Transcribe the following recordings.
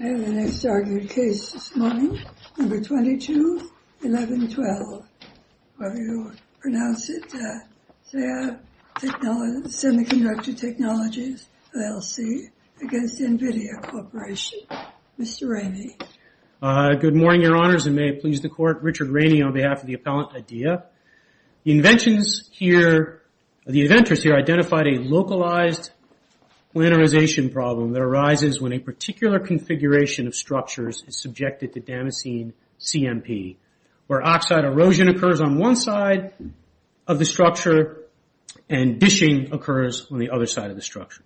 I have the next argued case this morning, number 221112, however you pronounce it, SEMICONDUCTOR TECHNOLOGIES LLC against NVIDIA Corporation. Mr. Rainey. Good morning, your honors, and may it please the court, Richard Rainey on behalf of the appellant IDEA. The inventors here identified a localized planarization problem that arises when a particular configuration of structures is subjected to Damascene CMP, where oxide erosion occurs on one side of the structure and dishing occurs on the other side of the structure.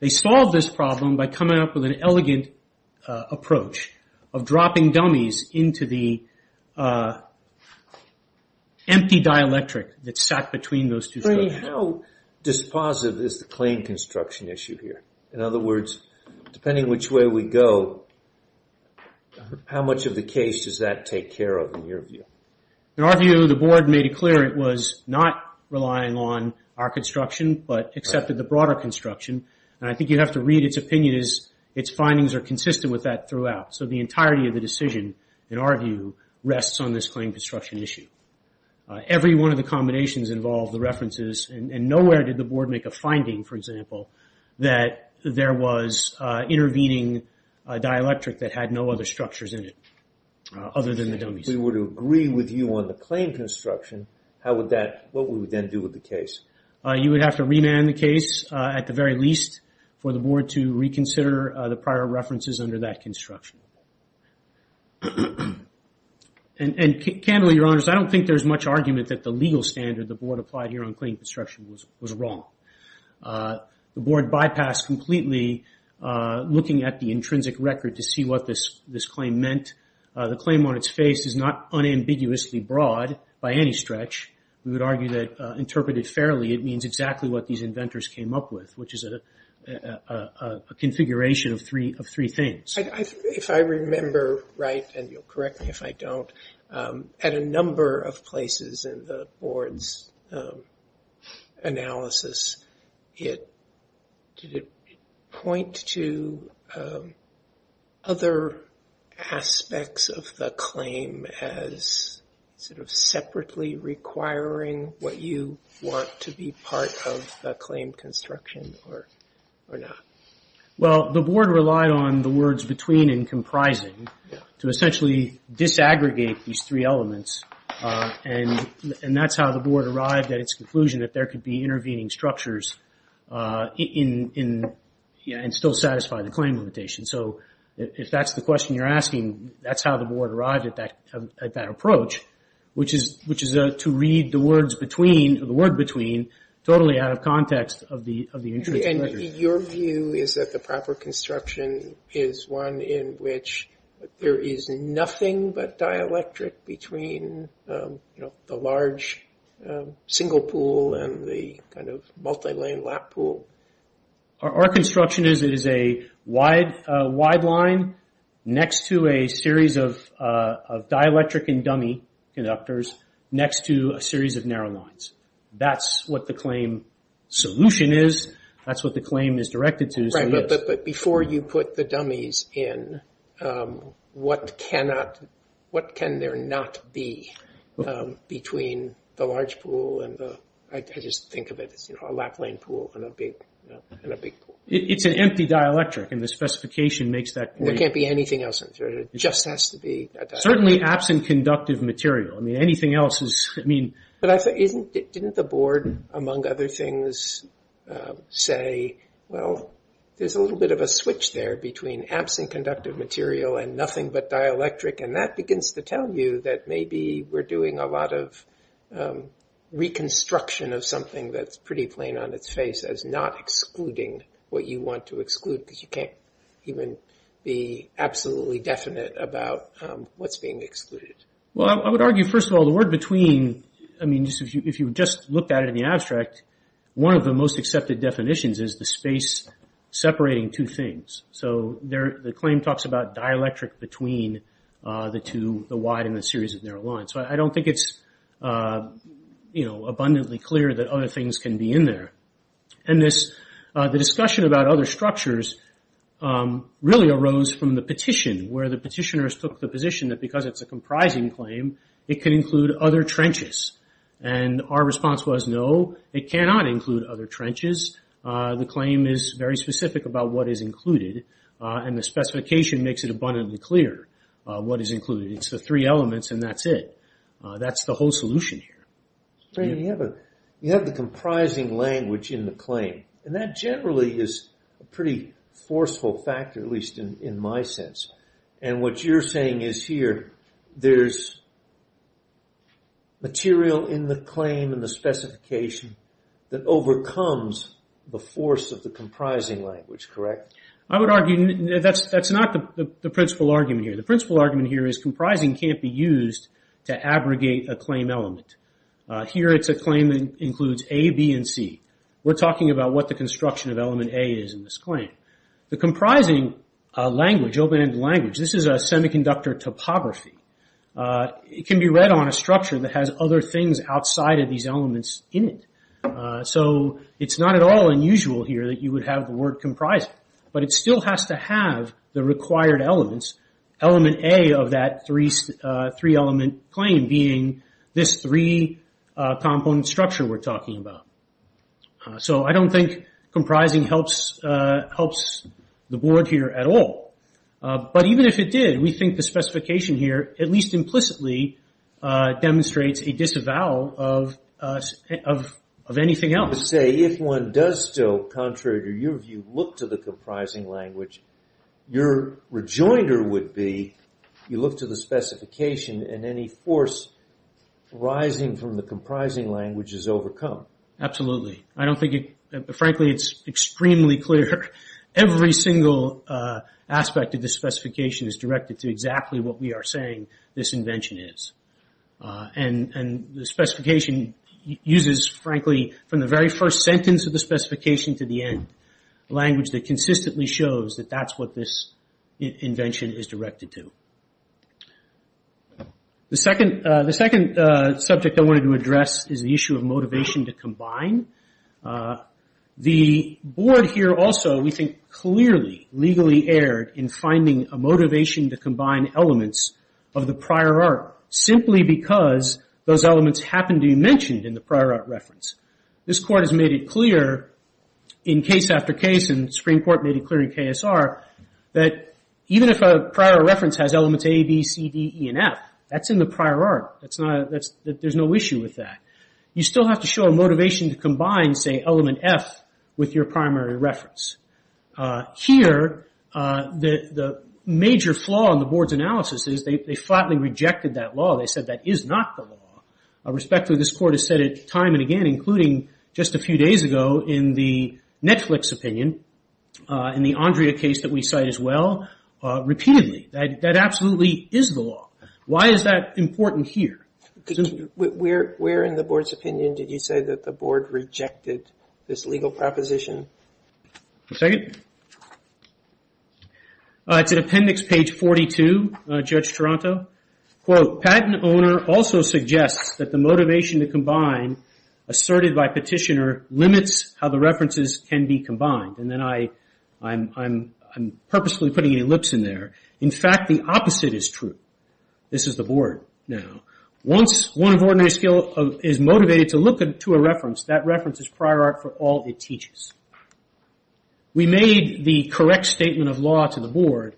They solved this problem by coming up with an elegant approach of dropping dummies into the empty dielectric that's sat between those two structures. How dispositive is the claim construction issue here? In other words, depending which way we go, how much of the case does that take care of in your view? In our view, the board made it clear it was not relying on our construction, but accepted the broader construction. And I think you have to read its opinion as its findings are consistent with that throughout. So the entirety of the decision, in our view, rests on this claim construction issue. Every one of the combinations involved the references, and nowhere did the board make a finding, for example, that there was intervening dielectric that had no other structures in it, other than the dummies. If we were to agree with you on the claim construction, what would we then do with the case? You would have to remand the case, at the very least, for the board to reconsider the prior references under that construction. And candidly, Your Honors, I don't think there's much argument that the legal standard the board applied here on claim construction was wrong. The board bypassed completely looking at the intrinsic record to see what this claim meant. The claim on its face is not unambiguously broad by any stretch. We would argue that interpreted fairly, it means exactly what these inventors came up with, which is a configuration of three things. If I remember right, and you'll correct me if I don't, at a number of places in the board's analysis, did it point to other aspects of the claim as sort of separately requiring what you want to be part of the claim construction, or not? Well, the board relied on the words between and comprising to essentially disaggregate these three elements. And that's how the board arrived at its conclusion that there could be intervening structures and still satisfy the claim limitation. So if that's the question you're asking, that's how the board arrived at that approach, which is to read the word between totally out of context of the intrinsic record. And your view is that the proper construction is one in which there is nothing but dielectric between the large single pool and the kind of multi-lane lap pool? Our construction is it is a wide line next to a series of dielectric and dummy conductors next to a series of narrow lines. That's what the claim solution is. That's what the claim is directed to. Right, but before you put the dummies in, what cannot, what can there not be between the large pool and the, I just think of it as a lap lane pool and a big pool. It's an empty dielectric, and the specification makes that clear. There can't be anything else in there, it just has to be a dielectric. Certainly absent conductive material. I mean, anything else is, I mean. Didn't the board, among other things, say, well, there's a little bit of a switch there between absent conductive material and nothing but dielectric. And that begins to tell you that maybe we're doing a lot of reconstruction of something that's pretty plain on its face as not excluding what you want to exclude. Because you can't even be absolutely definite about what's being excluded. Well, I would argue, first of all, the word between, I mean, if you just looked at it in the abstract, one of the most accepted definitions is the space separating two things. So, the claim talks about dielectric between the two, the wide and the series of narrow lines. So, I don't think it's abundantly clear that other things can be in there. And the discussion about other structures really arose from the petition, where the petitioners took the position that because it's a comprising claim, it can include other trenches. And our response was, no, it cannot include other trenches. The claim is very specific about what is included, and the specification makes it abundantly clear what is included. It's the three elements, and that's it. That's the whole solution here. You have the comprising language in the claim. And that generally is a pretty forceful factor, at least in my sense. And what you're saying is here, there's material in the claim and the specification that overcomes the force of the comprising language, correct? I would argue that's not the principal argument here. The principal argument here is comprising can't be used to abrogate a claim element. Here it's a claim that includes A, B, and C. We're talking about what the construction of element A is in this claim. The comprising language, open-ended language, this is a semiconductor topography. It can be read on a structure that has other things outside of these elements in it. So, it's not at all unusual here that you would have the word comprising. But it still has to have the required elements. Element A of that three-element claim being this three-component structure we're talking about. So, I don't think comprising helps the board here at all. But even if it did, we think the specification here, at least implicitly, demonstrates a disavowal of anything else. If one does still, contrary to your view, look to the comprising language, your rejoinder would be, you look to the specification, and any force arising from the comprising language is overcome. Absolutely. I don't think, frankly, it's extremely clear. Every single aspect of the specification is directed to exactly what we are saying this invention is. And the specification uses, frankly, from the very first sentence of the specification to the end, language that consistently shows that that's what this invention is directed to. The second subject I wanted to address is the issue of motivation to combine. The board here also, we think, clearly, legally erred in finding a motivation to combine elements of the prior art simply because those elements happened to be mentioned in the prior art reference. This court has made it clear in case after case, and the Supreme Court made it clear in KSR, that even if a prior reference has elements A, B, C, D, E, and F, that's in the prior art. There's no issue with that. You still have to show a motivation to combine, say, element F with your primary reference. Here, the major flaw in the board's analysis is they flatly rejected that law. They said that is not the law. Respectfully, this court has said it time and again, including just a few days ago in the Netflix opinion, in the Andrea case that we cite as well, repeatedly. That absolutely is the law. Why is that important here? Where in the board's opinion did you say that the board rejected this legal proposition? It's in appendix page 42, Judge Toronto. Quote, patent owner also suggests that the motivation to combine asserted by petitioner limits how the references can be combined. Then I'm purposely putting an ellipse in there. In fact, the opposite is true. This is the board now. Once one of ordinary skill is motivated to look to a reference, that reference is prior art for all it teaches. We made the correct statement of law to the board,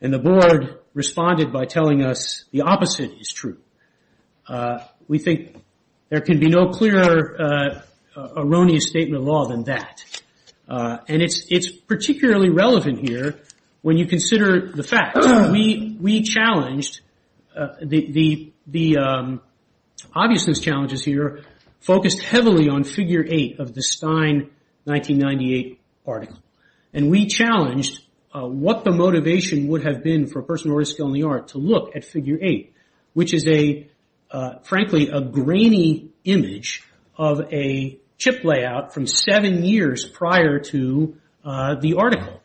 and the board responded by telling us the opposite is true. We think there can be no clearer erroneous statement of law than that. It's particularly relevant here when you consider the facts. We challenged the obviousness challenges here, focused heavily on figure 8 of the Stein 1998 article. We challenged what the motivation would have been for a person of ordinary skill in the art to look at figure 8, which is a, frankly, a grainy image of a chip layout from seven years prior to the article.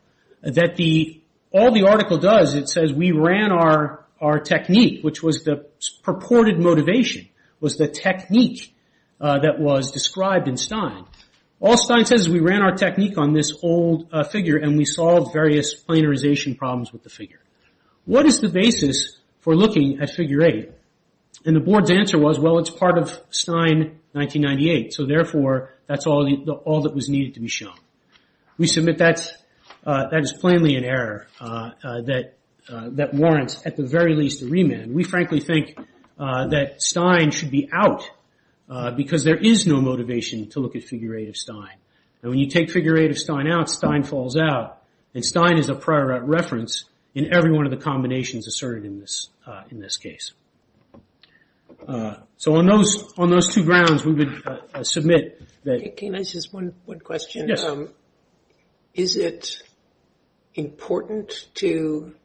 All the article does, it says we ran our technique, which was the purported motivation, was the technique that was described in Stein. All Stein says is we ran our technique on this old figure, and we solved various planarization problems with the figure. What is the basis for looking at figure 8? The board's answer was, well, it's part of Stein 1998, so therefore, that's all that was needed to be shown. We submit that that is plainly an error that warrants, at the very least, a remand. We frankly think that Stein should be out because there is no motivation to look at figure 8 of Stein. When you take figure 8 of Stein out, Stein falls out. Stein is a prior reference in every one of the combinations asserted in this case. On those two grounds, we would submit that... Can I ask just one question? Yes. Is it important to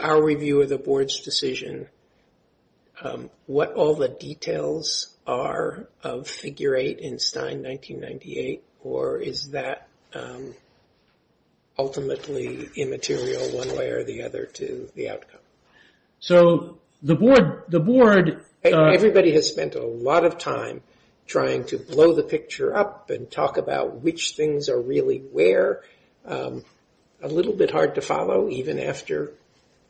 our review of the board's decision what all the details are of figure 8 in Stein 1998? Or is that ultimately immaterial one way or the other to the outcome? So, the board... We spent a lot of time trying to blow the picture up and talk about which things are really where. A little bit hard to follow, even after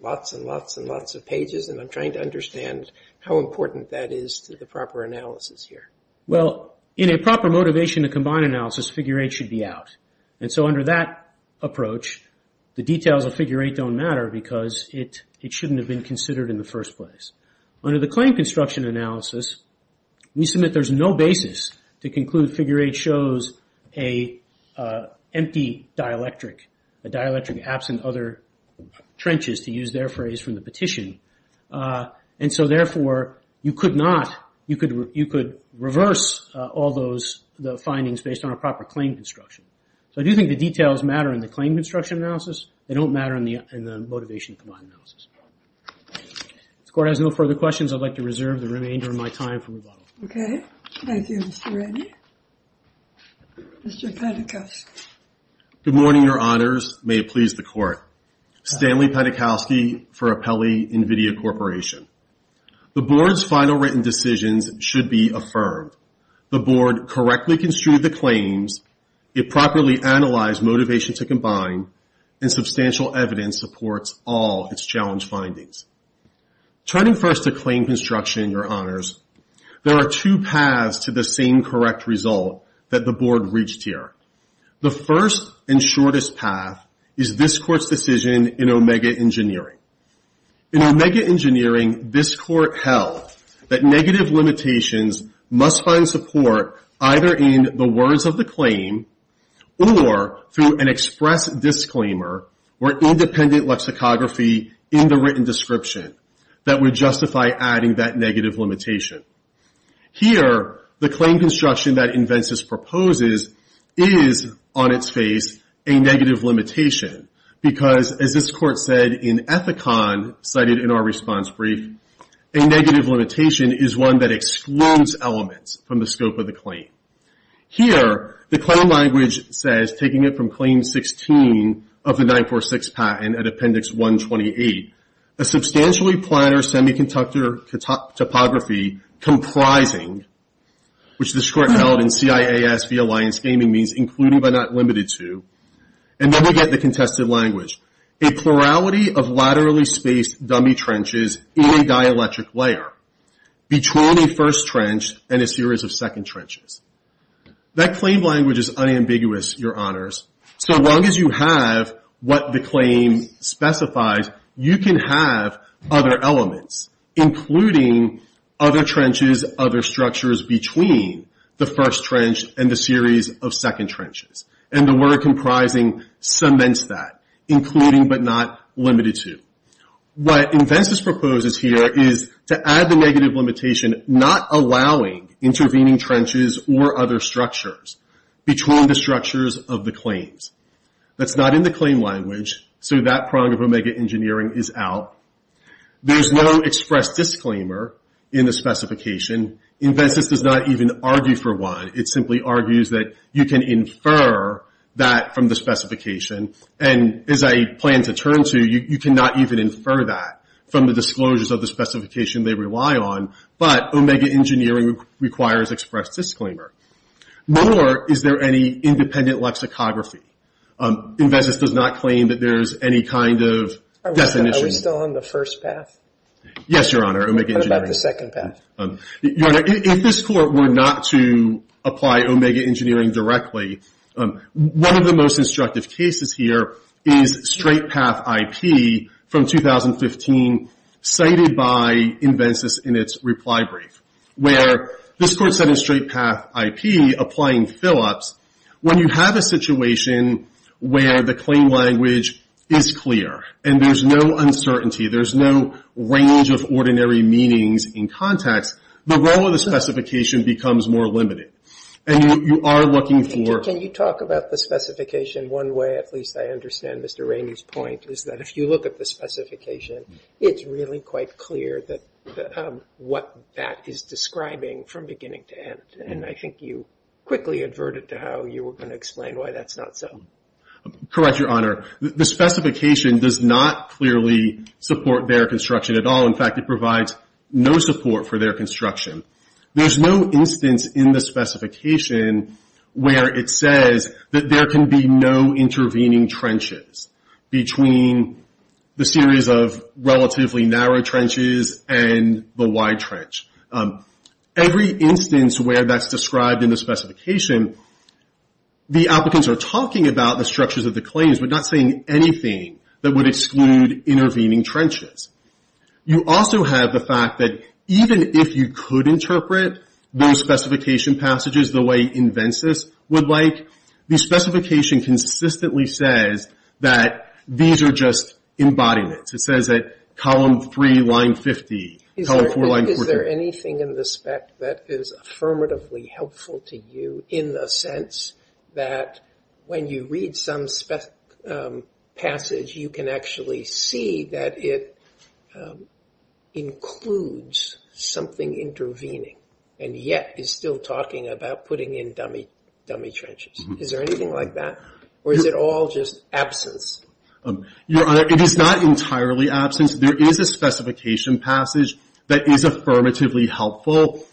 lots and lots and lots of pages, and I'm trying to understand how important that is to the proper analysis here. Well, in a proper motivation to combine analysis, figure 8 should be out. And so, under that approach, the details of figure 8 don't matter because it shouldn't have been considered in the first place. Under the claim construction analysis, we submit there's no basis to conclude figure 8 shows an empty dielectric. A dielectric absent other trenches, to use their phrase from the petition. And so, therefore, you could reverse all those findings based on a proper claim construction. So, I do think the details matter in the claim construction analysis. They don't matter in the motivation to combine analysis. If the court has no further questions, I'd like to reserve the remainder of my time for rebuttal. Okay. Thank you, Mr. Reddy. Mr. Penikowski. Good morning, Your Honors. May it please the court. Stanley Penikowski for Apelli NVIDIA Corporation. The board's final written decisions should be affirmed. The board correctly construed the claims, it properly analyzed motivation to combine, and substantial evidence supports all its challenge findings. Turning first to claim construction, Your Honors, there are two paths to the same correct result that the board reached here. The first and shortest path is this court's decision in Omega Engineering. In Omega Engineering, this court held that negative limitations must find support either in the words of the claim or through an express disclaimer or independent lexicography in the written description that would justify adding that negative limitation. Here, the claim construction that Invensys proposes is, on its face, a negative limitation. Because, as this court said in Ethicon, cited in our response brief, a negative limitation is one that excludes elements from the scope of the claim. Here, the claim language says, taking it from Claim 16 of the 946 patent at Appendix 128, a substantially planar semiconductor topography comprising, which this court held in CIAS v. Alliance Gaming means including but not limited to, and then we get the contested language, a plurality of laterally spaced dummy trenches in a dielectric layer between a first trench and a series of second trenches. That claim language is unambiguous, Your Honors. So long as you have what the claim specifies, you can have other elements, including other trenches, other structures between the first trench and the series of second trenches. And the word comprising cements that, including but not limited to. What Invensys proposes here is to add the negative limitation, not allowing intervening trenches or other structures between the structures of the claims. That's not in the claim language, so that prong of Omega Engineering is out. There's no express disclaimer in the specification. Invensys does not even argue for one. It simply argues that you can infer that from the specification. And as I plan to turn to, you cannot even infer that from the disclosures of the specification they rely on. But Omega Engineering requires express disclaimer. Nor is there any independent lexicography. Invensys does not claim that there's any kind of definition. Are we still on the first path? Yes, Your Honor, Omega Engineering. What about the second path? Your Honor, if this court were not to apply Omega Engineering directly, one of the most instructive cases here is Straight Path IP from 2015, cited by Invensys in its reply brief. Where this court said in Straight Path IP, applying Phillips, when you have a situation where the claim language is clear, and there's no uncertainty, there's no range of ordinary meanings in context, the role of the specification becomes more limited. And you are looking for... Can you talk about the specification one way? At least I understand Mr. Rainey's point, is that if you look at the specification, it's really quite clear what that is describing from beginning to end. And I think you quickly adverted to how you were going to explain why that's not so. Correct, Your Honor. The specification does not clearly support their construction at all. In fact, it provides no support for their construction. There's no instance in the specification where it says that there can be no intervening trenches between the series of relatively narrow trenches and the wide trench. Every instance where that's described in the specification, the applicants are talking about the structures of the claims, but not saying anything that would exclude intervening trenches. You also have the fact that even if you could interpret those specification passages the way InvenCIS would like, the specification consistently says that these are just embodiments. It says that column 3, line 50, column 4, line 40... Is there anything in the spec that is affirmatively helpful to you in the sense that when you read some passage, you can actually see that it includes something intervening, and yet is still talking about putting in dummy trenches? Is there anything like that, or is it all just absence? Your Honor, it is not entirely absence. There is a specification passage that is affirmatively helpful.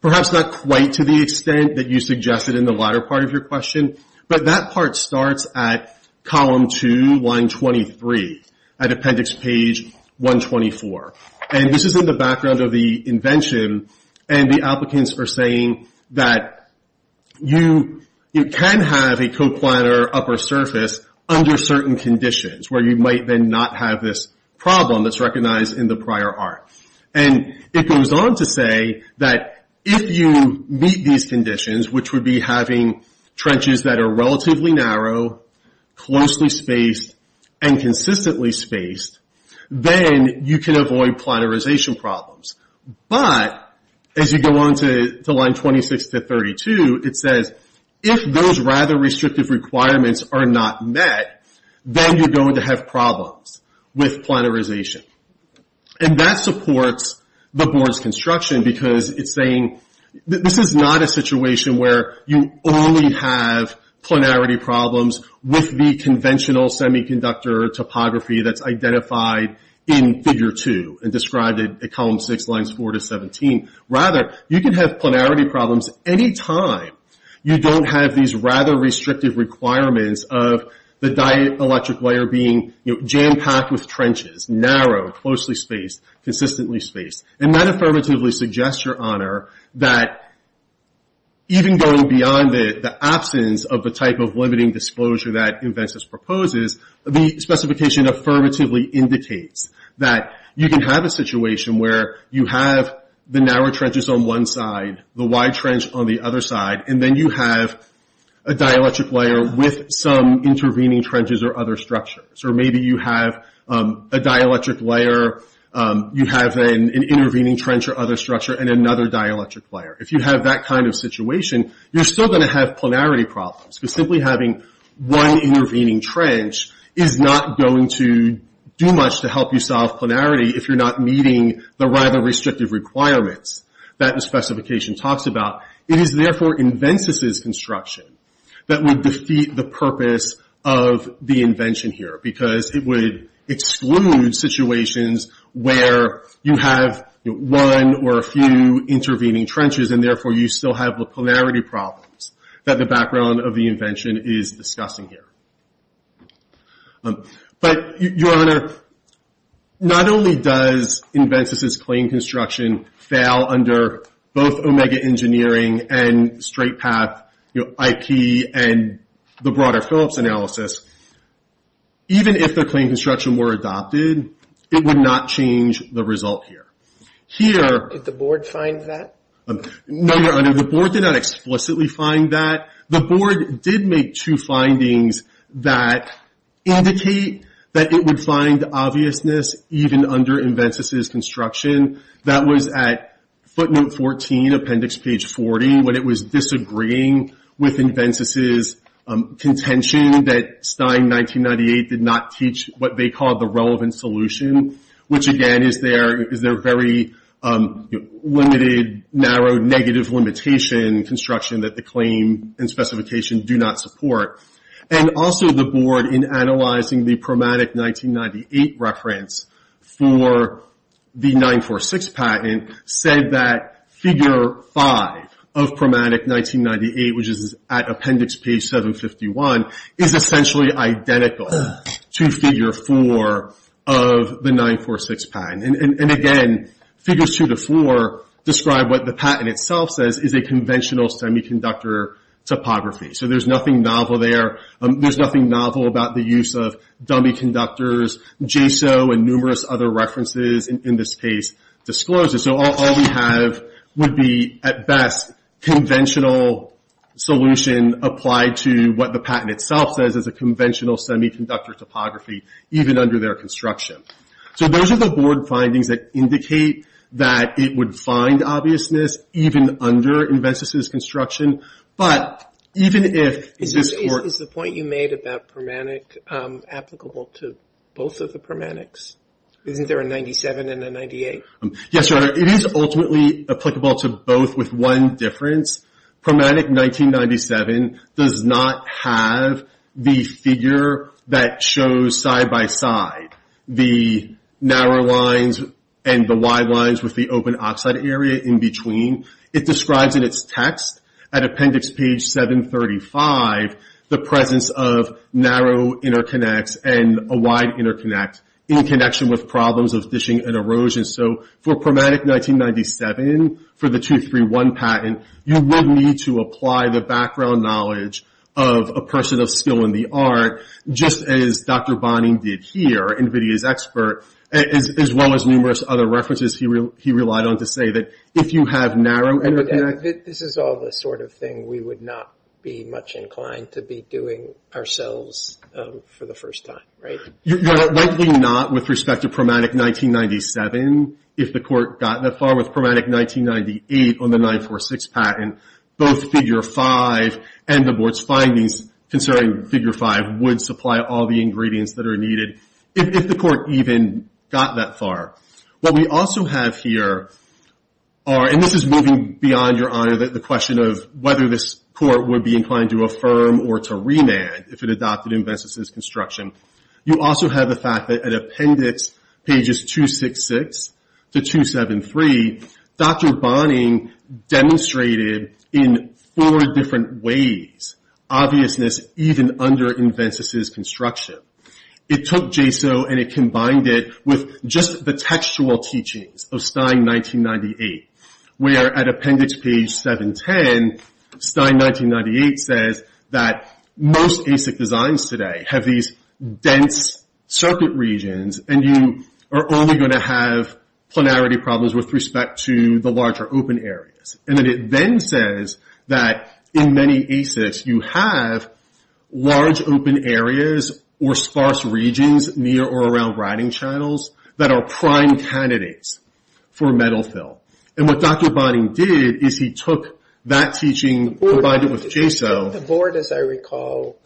Perhaps not quite to the extent that you suggested in the latter part of your question, but that part starts at column 2, line 23, at appendix page 124. This is in the background of the invention, and the applicants are saying that you can have a co-planner upper surface under certain conditions, where you might then not have this problem that's recognized in the prior art. It goes on to say that if you meet these conditions, which would be having trenches that are relatively narrow, closely spaced, and consistently spaced, then you can avoid planarization problems. But, as you go on to line 26 to 32, it says, if those rather restrictive requirements are not met, then you're going to have problems with planarization. And that supports the board's construction because it's saying this is not a situation where you only have planarity problems with the conventional semiconductor topography that's identified in figure 2, and described at column 6, lines 4 to 17. Rather, you can have planarity problems any time you don't have these rather restrictive requirements of the dielectric wire being jam-packed with trenches, narrow, closely spaced, consistently spaced. And that affirmatively suggests, Your Honor, that even going beyond the absence of the type of limiting disclosure that Inventus proposes, the specification affirmatively indicates that you can have a situation where you have the narrow trenches on one side, the wide trench on the other side, and then you have a dielectric layer with some intervening trenches or other structures. Or maybe you have a dielectric layer, you have an intervening trench or other structure, and another dielectric layer. If you have that kind of situation, you're still going to have planarity problems. Because simply having one intervening trench is not going to do much to help you solve planarity if you're not meeting the rather restrictive requirements that the specification talks about. It is therefore Inventus's construction that would defeat the purpose of the invention here. Because it would exclude situations where you have one or a few intervening trenches, and therefore you still have planarity problems that the background of the invention is discussing here. But, Your Honor, not only does Inventus's clean construction fail under both Omega Engineering and Straight Path IP and the broader Phillips analysis, even if the clean construction were adopted, it would not change the result here. Did the board find that? No, Your Honor, the board did not explicitly find that. The board did make two findings that indicate that it would find obviousness even under Inventus's construction. That was at footnote 14, appendix page 40, when it was disagreeing with Inventus's contention that Stein 1998 did not teach what they called the relevant solution, which again is their very limited, narrow, negative limitation construction that the claim and specification do not support. And also the board, in analyzing the Promatic 1998 reference for the 946 patent, said that figure 5 of Promatic 1998, which is at appendix page 751, is essentially identical to figure 4 of the 946 patent. And again, figures 2 to 4 describe what the patent itself says is a conventional semiconductor topography. So there's nothing novel there. There's nothing novel about the use of dummy conductors, JSO, and numerous other references in this case disclosed. So all we have would be, at best, conventional solution applied to what the patent itself says is a conventional semiconductor topography, even under their construction. So those are the board findings that indicate that it would find obviousness even under Inventus's construction. But even if... Is the point you made about Promatic applicable to both of the Promanics? Isn't there a 97 and a 98? Yes, Your Honor, it is ultimately applicable to both with one difference. Promatic 1997 does not have the figure that shows side by side the narrow lines and the wide lines with the open oxide area in between. It describes in its text at appendix page 735 the presence of narrow interconnects and a wide interconnect in connection with problems of dishing and erosion. So for Promatic 1997, for the 231 patent, you would need to apply the background knowledge of a person of skill in the art, just as Dr. Bonin did here, Invidia's expert, as well as numerous other references he relied on to say that if you have narrow interconnects... This is all the sort of thing we would not be much inclined to be doing ourselves for the first time, right? You're likely not with respect to Promatic 1997 if the Court got that far with Promatic 1998 on the 946 patent. Both Figure 5 and the Board's findings considering Figure 5 would supply all the ingredients that are needed if the Court even got that far. What we also have here are... And this is moving beyond, Your Honor, the question of whether this Court would be inclined to affirm or to remand if it adopted Invenstis' construction. You also have the fact that at Appendix pages 266 to 273, Dr. Bonin demonstrated in four different ways obviousness even under Invenstis' construction. It took JSO and it combined it with just the textual teachings of Stein 1998, where at Appendix page 710, Stein 1998 says that most ASIC designs today have these dense circuit regions and you are only going to have planarity problems with respect to the larger open areas. And then it then says that in many ASICs you have large open areas or sparse regions near or around writing channels that are prime candidates for metal fill. And what Dr. Bonin did is he took that teaching, combined it with JSO... The Board, as I recall,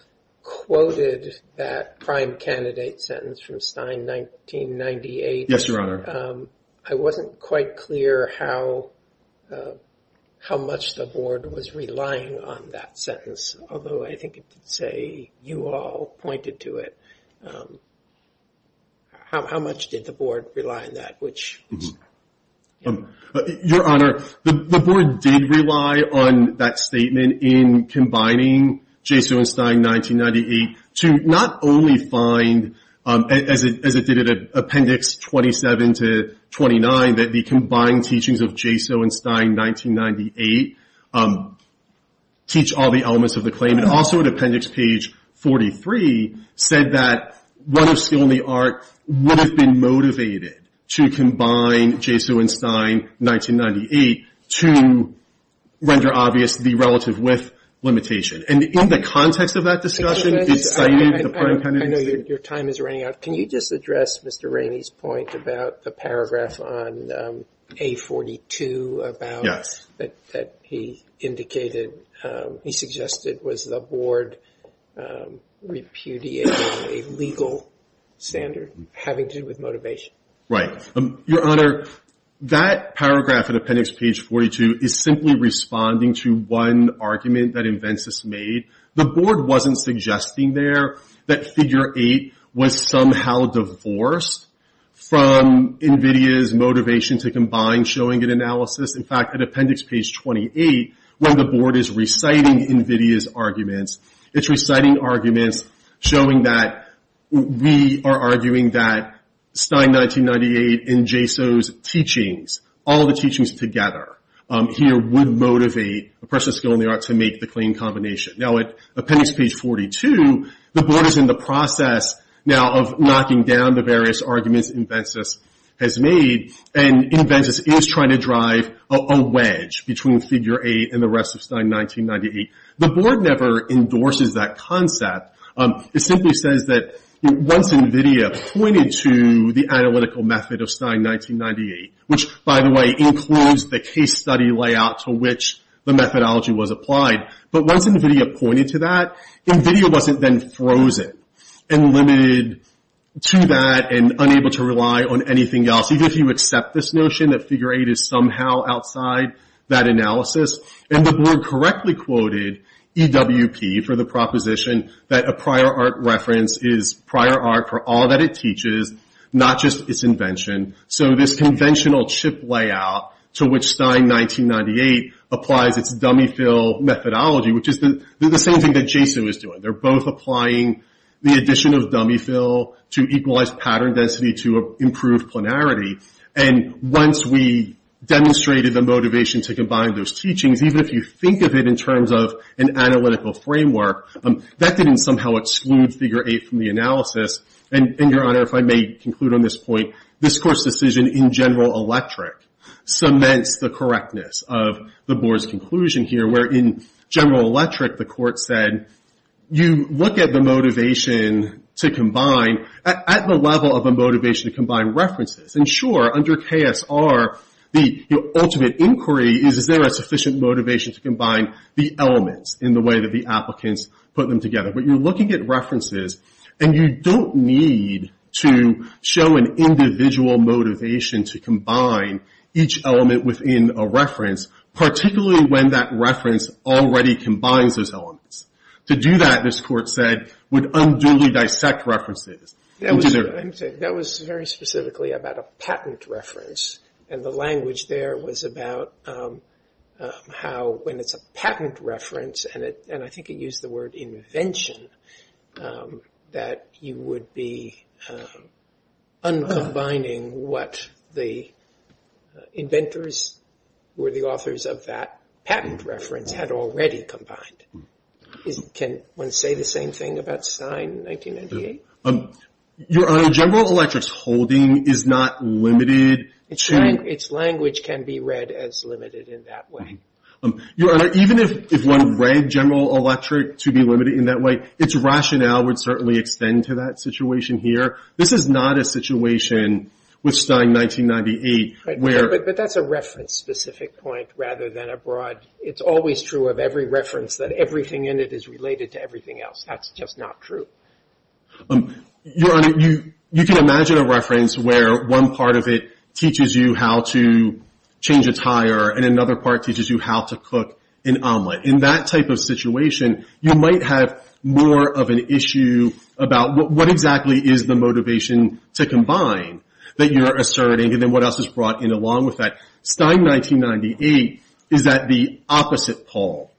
quoted that prime candidate sentence from Stein 1998. Yes, Your Honor. I wasn't quite clear how much the Board was relying on that sentence, although I think it did say you all pointed to it. How much did the Board rely on that? Your Honor, the Board did rely on that statement in combining JSO and Stein 1998 to not only find, as it did at Appendix 27 to 29, that the combined teachings of JSO and Stein 1998 teach all the elements of the claim. It also, at Appendix page 43, said that run of steel in the art would have been motivated to combine JSO and Stein 1998 to render obvious the relative width limitation. And in the context of that discussion... I know your time is running out. Can you just address Mr. Rainey's point about the paragraph on page 42 that he indicated he suggested was the Board repudiating a legal standard having to do with motivation. Right. Your Honor, that paragraph at Appendix page 42 is simply responding to one argument that Invencis made. The Board wasn't suggesting there that figure 8 was somehow divorced from NVIDIA's motivation to combine showing an analysis. In fact, at Appendix page 28 when the Board is reciting NVIDIA's arguments it's reciting arguments showing that we are arguing that Stein 1998 and JSO's teachings, all the teachings together here would motivate a person's skill in the art to make the claim combination. Now at Appendix page 42, the Board is in the process now of knocking down the various arguments Invencis has made, and Invencis is trying to drive a wedge between figure 8 and the rest of Stein 1998. The Board never endorses that Once NVIDIA pointed to the analytical method of Stein 1998, which by the way includes the case study layout to which the methodology was applied. But once NVIDIA pointed to that NVIDIA wasn't then frozen and limited to that and unable to rely on anything else, even if you accept this notion that figure 8 is somehow outside that analysis. And the Board correctly quoted EWP for the proposition that a prior art reference is prior art for all that it teaches, not just its invention. So this conventional chip layout to which Stein 1998 applies its dummy fill methodology, which is the same thing that JSO is doing. They're both applying the addition of dummy fill to equalize pattern density to improve planarity and once we demonstrated the motivation to combine those teachings, even if you think of it in terms of an analytical framework, that didn't somehow exclude figure 8 from the analysis. And Your Honor, if I may conclude on this point, this Court's decision in General Electric cements the correctness of the Board's conclusion here, where in General Electric the Court said, you look at the motivation to combine at the level of a motivation to combine references and sure, under KSR, the ultimate inquiry is, is there a sufficient motivation to combine the elements in the way that the applicants put them together. But you're looking at references and you don't need to show an individual motivation to combine each element within a reference, particularly when that reference already combines those elements. To do that, this Court said, would unduly dissect references. That was very specifically about a patent reference and the language there was about how when it's a patent reference and I think it used the word invention that you would be un-combining what the inventors who were the authors of that patent reference had already combined. Can one say the same thing about Stein in 1998? Your Honor, General Electric's holding is not limited to... Its language can be read as limited in that way. Your Honor, even if one read General Electric to be limited in that way, its rationale would certainly extend to that situation here. This is not a situation with Stein 1998 where... But that's a reference specific point rather than a broad it's always true of every reference that everything in it is related to everything else. That's just not true. Your Honor, you can imagine a reference where one part of it teaches you how to change a tire and another part teaches you how to cook an omelet. In that type of situation, you might have more of an issue about what exactly is the motivation to combine that you're asserting and then what else is brought in along with that. Stein 1998 is at the opposite pole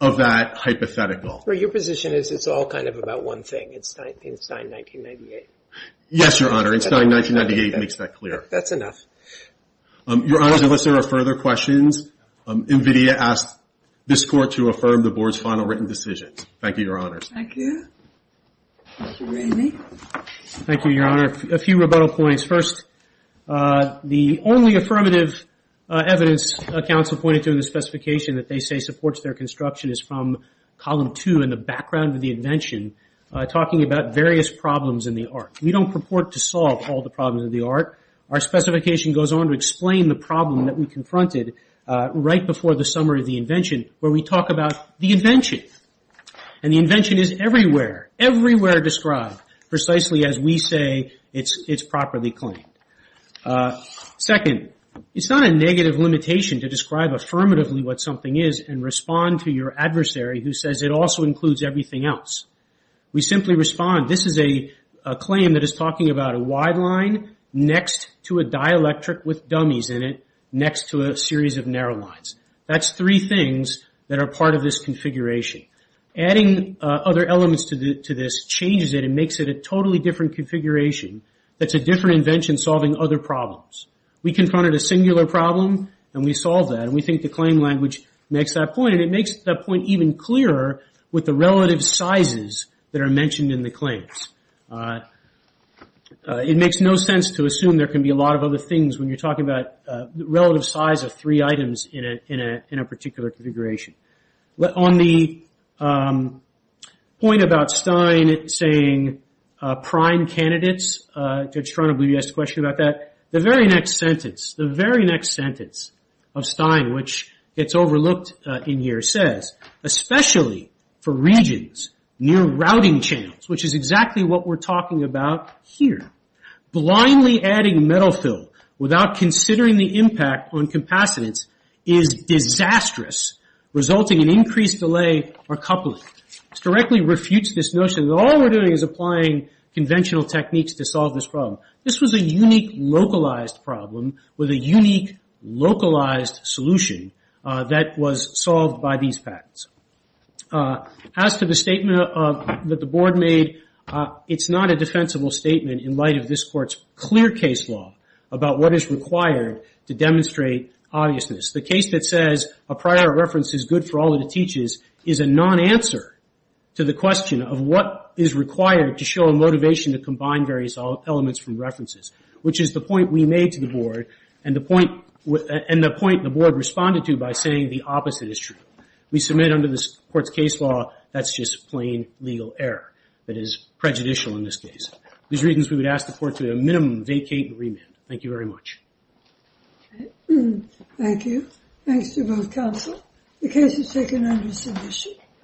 of that hypothetical. Your position is it's all kind of about one thing. It's Stein 1998. Yes, Your Honor. Stein 1998 makes that clear. That's enough. Your Honor, unless there are further questions, NVIDIA asks this Court to affirm the Board's final written decision. Thank you, Your Honor. Thank you. Thank you, Randy. Thank you, Your Honor. A few rebuttal points. First, the only affirmative evidence counsel pointed to in the specification that they say supports their construction is from Column 2 in the background of the invention talking about various problems in the art. We don't purport to solve all the problems of the art. Our specification goes on to explain the problem that we confronted right before the summary of the invention where we talk about the invention. And the invention is everywhere, everywhere described, precisely as we say it's properly claimed. Second, it's not a negative limitation to describe affirmatively what something is and respond to your adversary who says it also includes everything else. We simply respond, this is a claim that is talking about a wide line next to a dielectric with dummies in it next to a series of narrow lines. That's three things that are part of this configuration. Adding other elements to this changes it and makes it a totally different configuration that's a different invention solving other problems. We confronted a singular problem and we solved that and we think the claim language makes that point and it makes that point even clearer with the relative sizes that are mentioned in the claims. It makes no sense to assume there can be a lot of other things when you're talking about relative size of three items in a particular configuration. On the point about Stein saying prime candidates, Judge Tronoblue, you asked a question about that, the very next sentence, the very next sentence of Stein which gets overlooked in here says, especially for regions near routing channels, which is exactly what we're talking about here, blindly adding metal fill without considering the impact on capacitance is disastrous, resulting in increased delay or coupling. It directly refutes this notion that all we're doing is applying conventional techniques to solve this problem. This was a unique localized problem with a unique localized solution that was solved by these patents. As to the statement that the board made, it's not a defensible statement in light of this court's clear case law about what is required to demonstrate obviousness. The case that says a prior reference is good for all that it teaches is a non-answer to the question of what is required to show a motivation to combine various elements from references, which is the point we made to the board and the point the board responded to by saying the opposite is true. We submit under this court's case law that's just plain legal error that is prejudicial in this case. These reasons we would ask the court to at a minimum vacate and remand. Thank you very much. Thank you. Thanks to both counsel. The case is taken under submission.